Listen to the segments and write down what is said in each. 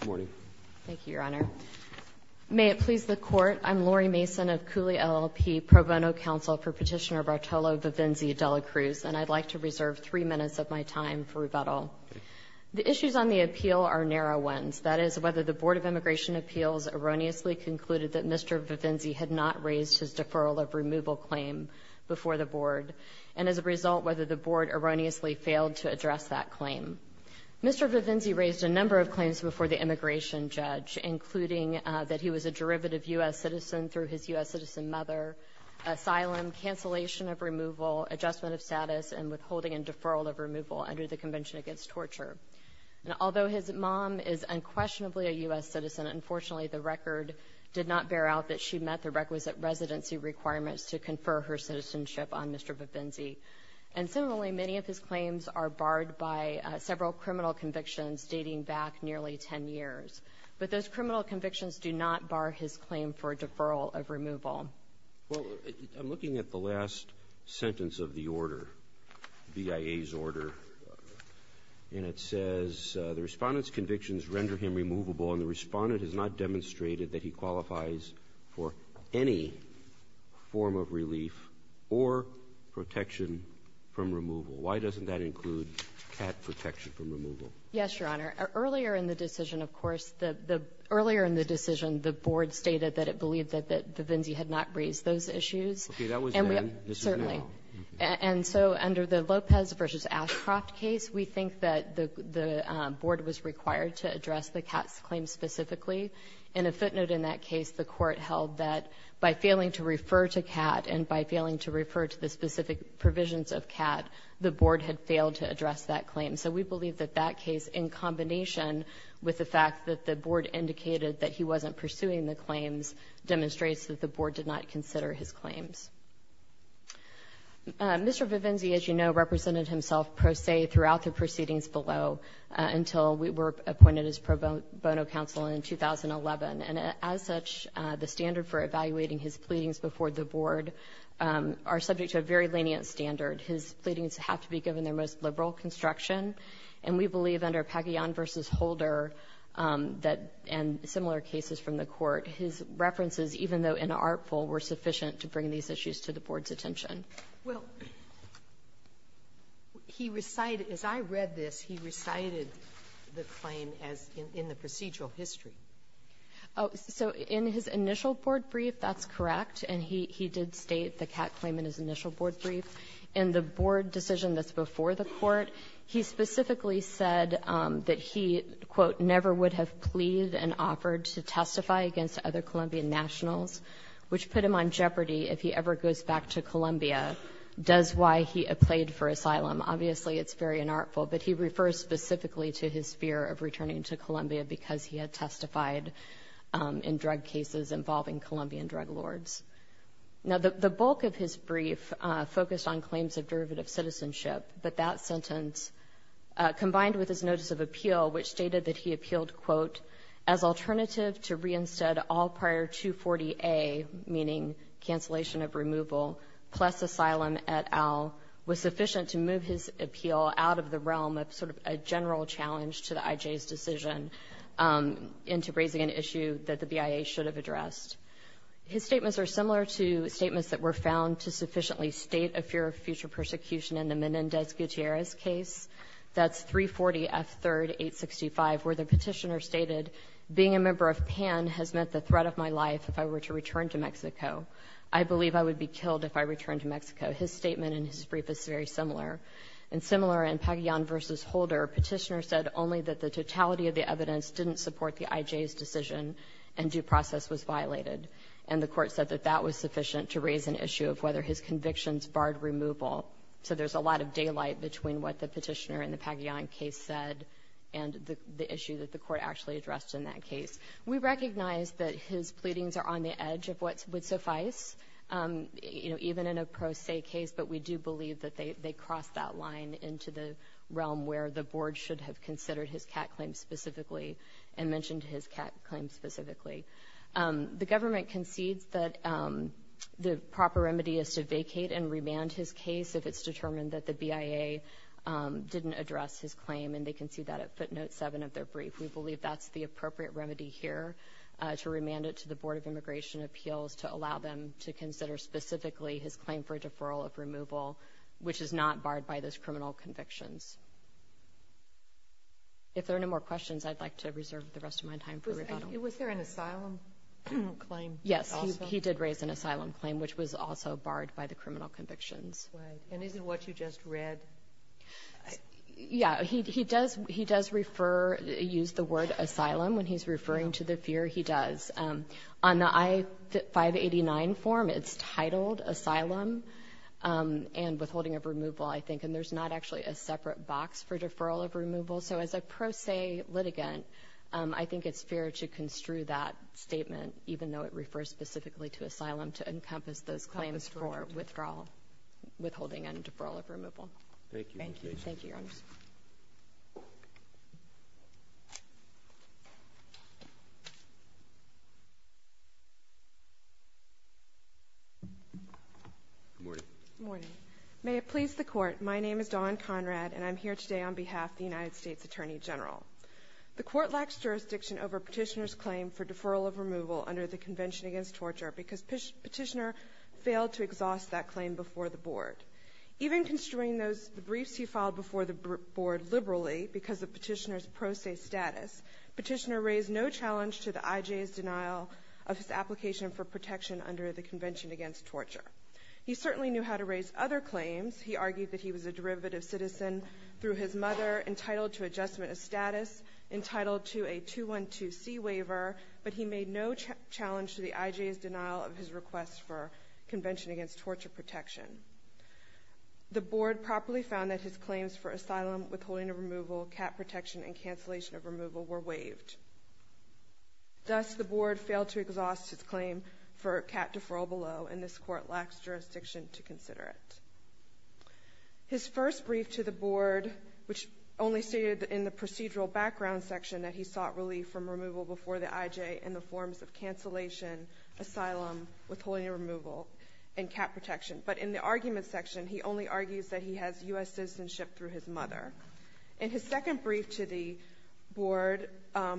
Good morning. Thank you, Your Honor. May it please the Court, I'm Lori Mason of Cooley LLP Pro Bono Council for Petitioner Bartolo Vivenzi-De La Cruz, and I'd like to reserve three minutes of my time for rebuttal. The issues on the appeal are narrow ones, that is, whether the Board of Immigration Appeals erroneously concluded that Mr. Vivenzi had not raised his deferral of removal claim before the Board, and as a result, whether the Board erroneously failed to address that claim. Mr. Vivenzi raised a number of claims before the immigration judge, including that he was a derivative U.S. citizen through his U.S. citizen mother, asylum, cancellation of removal, adjustment of status, and withholding and deferral of removal under the Convention Against Torture. Although his mom is unquestionably a U.S. citizen, unfortunately the record did not bear out that she met the requisite residency requirements to confer her citizenship on Mr. Vivenzi. And similarly, many of his claims are barred by several criminal convictions dating back nearly 10 years. But those criminal convictions do not bar his claim for deferral of removal. Well, I'm looking at the last sentence of the order, BIA's order, and it says the Respondent's convictions render him removable, and the Respondent has not demonstrated that he qualifies for any form of relief or protection from removal. Why doesn't that include cat protection from removal? Yes, Your Honor. Earlier in the decision, of course, the — earlier in the decision, the Board stated that it believed that Vivenzi had not raised those issues. Okay. That was then. This is now. Certainly. And so under the Lopez v. Ashcroft case, we think that the Board was required to address the cat's claim specifically. And a footnote in that case, the Court held that by failing to refer to cat and by failing to refer to the specific provisions of cat, the Board had failed to address that claim. So we believe that that case, in combination with the fact that the Board indicated that he wasn't pursuing the claims, demonstrates that the Board did not consider his claims. Mr. Vivenzi, as you know, represented himself pro se throughout the proceedings below until we were appointed as pro bono counsel in 2011. And as such, the standard for evaluating his pleadings before the Board are subject to a very lenient standard. His pleadings have to be given their most liberal construction, and we believe under Pagayan v. Holder and similar cases from the Court, his references, even though inartful, were sufficient to bring these issues to the Board's attention. Well, he recited as I read this, he recited the claim as in the procedural history. So in his initial Board brief, that's correct. And he did state the cat claim in his initial Board brief. But he specifically said that he, quote, never would have pleaded and offered to testify against other Colombian nationals, which put him on jeopardy if he ever goes back to Colombia, does why he pleaded for asylum. Obviously, it's very inartful, but he refers specifically to his fear of returning to Colombia because he had testified in drug cases involving Colombian drug lords. Now, the bulk of his brief focused on claims of derivative citizenship, but that sentence, combined with his notice of appeal, which stated that he appealed, quote, as alternative to reinstead all prior 240A, meaning cancellation of removal, plus asylum et al., was sufficient to move his appeal out of the realm of sort of a general challenge to the IJ's decision into raising an issue that the BIA should have addressed. His statements are similar to statements that were found to sufficiently state a fear of future persecution in the Menendez Gutierrez case. That's 340F3-865, where the petitioner stated, being a member of PAN has meant the threat of my life if I were to return to Mexico. I believe I would be killed if I returned to Mexico. His statement in his brief is very similar. And similar in Pagillan v. Holder, where a petitioner said only that the totality of the evidence didn't support the IJ's decision and due process was violated. And the court said that that was sufficient to raise an issue of whether his convictions barred removal. So there's a lot of daylight between what the petitioner in the Pagillan case said and the issue that the court actually addressed in that case. We recognize that his pleadings are on the edge of what would suffice, you know, even in a pro se case, but we do believe that they cross that line into the realm where the board should have considered his CAT claim specifically and mentioned his CAT claim specifically. The government concedes that the proper remedy is to vacate and remand his case if it's determined that the BIA didn't address his claim, and they concede that at footnote 7 of their brief. We believe that's the appropriate remedy here to remand it to the Board of Immigration Appeals to allow them to consider specifically his claim for deferral of removal, which is not barred by those criminal convictions. If there are no more questions, I'd like to reserve the rest of my time for rebuttal. Was there an asylum claim? Yes, he did raise an asylum claim, which was also barred by the criminal convictions. And is it what you just read? Yeah, he does refer, use the word asylum when he's referring to the fear, he does. On the I-589 form, it's titled asylum and withholding of removal, I think, and there's not actually a separate box for deferral of removal. So as a pro se litigant, I think it's fair to construe that statement, even though it refers specifically to asylum, to encompass those claims for withdrawal, withholding and deferral of removal. Thank you. Thank you. Thank you, Your Honors. Good morning. Good morning. May it please the Court, my name is Dawn Conrad, and I'm here today on behalf of the United States Attorney General. The Court lacks jurisdiction over Petitioner's claim for deferral of removal under the Convention Against Torture because Petitioner failed to exhaust that claim before the Board. Even construing those briefs he filed before the Board liberally because of Petitioner's pro se status, Petitioner raised no challenge to the IJ's denial of his application for protection under the Convention Against Torture. He certainly knew how to raise other claims. He argued that he was a derivative citizen through his mother, entitled to adjustment of status, entitled to a 212C waiver, but he made no challenge to the IJ's denial of his request for Convention Against Torture protection. The Board properly found that his claims for asylum, withholding of removal, cat protection, and cancellation of removal were waived. Thus, the Board failed to exhaust his claim for cat deferral below, and this Court lacks jurisdiction to consider it. His first brief to the Board, which only stated in the procedural background section that he sought relief from removal before the IJ in the forms of cancellation, asylum, withholding of removal, and cat protection. But in the argument section, he only argues that he has U.S. citizenship through his mother. In his second brief to the Board,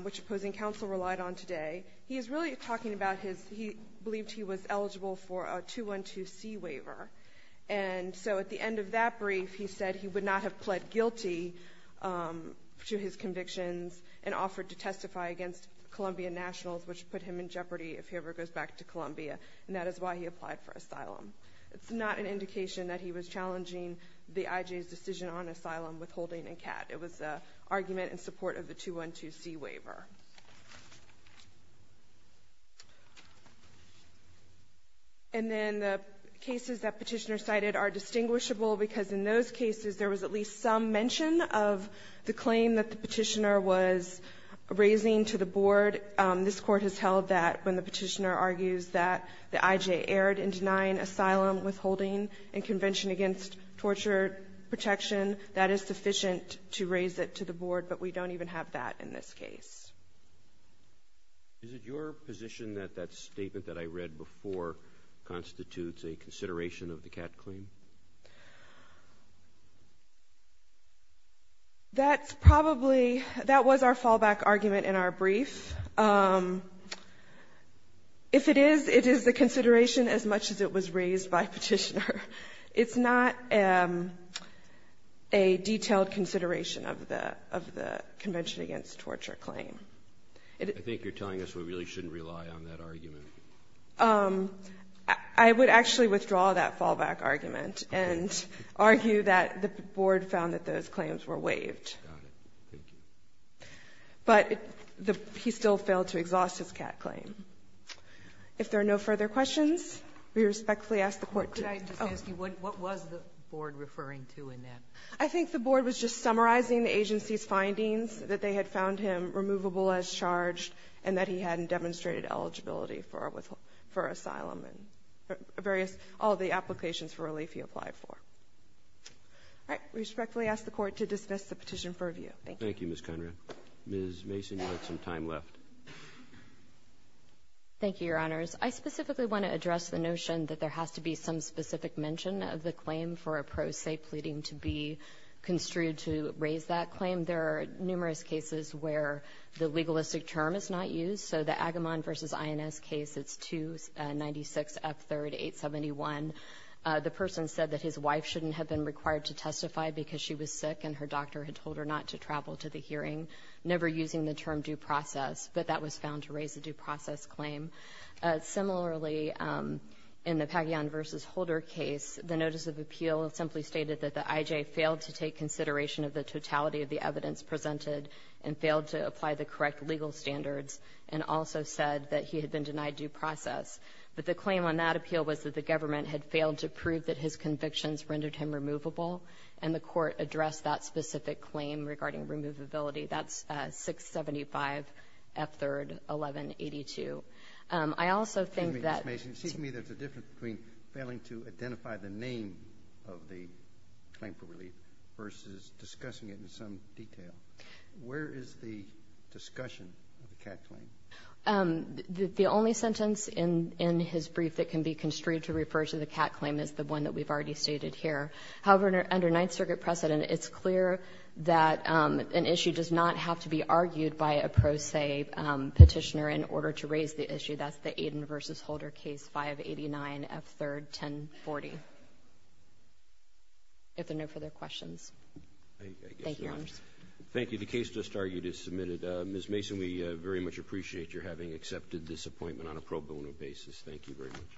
which opposing counsel relied on today, he is really talking about his he believed he was eligible for a 212C waiver, and so at the end of that brief he said he would not have pled guilty to his convictions and offered to testify against Columbia Nationals, which would put him in jeopardy if he ever goes back to Columbia. And that is why he applied for asylum. It's not an indication that he was challenging the IJ's decision on asylum, withholding, and cat. It was an argument in support of the 212C waiver. And then the cases that Petitioner cited are distinguishable because in those cases there was at least some mention of the claim that the Petitioner was raising to the Board. This Court has held that when the Petitioner argues that the IJ erred in denying asylum, withholding, and convention against torture protection, that is sufficient to raise it to the Board, but we don't even have that in this case. Is it your position that that statement that I read before constitutes a consideration of the cat claim? That's probably, that was our fallback argument in our brief. If it is, it is the consideration as much as it was raised by Petitioner. It's not a detailed consideration of the convention against torture claim. I think you're telling us we really shouldn't rely on that argument. I would actually withdraw that fallback argument and argue that the Board found that those claims were waived. Got it. Thank you. But he still failed to exhaust his cat claim. If there are no further questions, we respectfully ask the Court to close. Could I just ask you, what was the Board referring to in that? I think the Board was just summarizing the agency's findings, that they had found him removable as charged and that he hadn't demonstrated eligibility for asylum and various, all the applications for relief he applied for. All right. We respectfully ask the Court to dismiss the petition for review. Thank you. Thank you, Ms. Conrad. Ms. Mason, you had some time left. Thank you, Your Honors. I specifically want to address the notion that there has to be some specific mention of the claim for a pro se pleading to be construed to raise that claim. There are numerous cases where the legalistic term is not used. So the Agamon v. INS case, it's 296F3-871. The person said that his wife shouldn't have been required to testify because she was sick and her doctor had told her not to travel to the hearing, never using the term due process. But that was found to raise a due process claim. Similarly, in the Pagayan v. Holder case, the notice of appeal simply stated that the IJ failed to take consideration of the totality of the evidence presented and failed to apply the correct legal standards and also said that he had been denied due process. But the claim on that appeal was that the government had failed to prove that his convictions rendered him removable, and the Court addressed that specific claim regarding removability. That's 675F3-1182. I also think that ---- Excuse me, Ms. Mason. Excuse me. There's a difference between failing to identify the name of the claim for relief versus discussing it in some detail. Where is the discussion of the CAT claim? The only sentence in his brief that can be construed to refer to the CAT claim is the one that we've already stated here. However, under Ninth Circuit precedent, it's clear that an issue does not have to be argued by a pro se petitioner in order to raise the issue. That's the Aiden v. Holder case, 589F3-1040. If there are no further questions. Thank you, Your Honor. Thank you. The case just argued is submitted. Ms. Mason, we very much appreciate your having accepted this appointment on a pro bono basis. Thank you very much.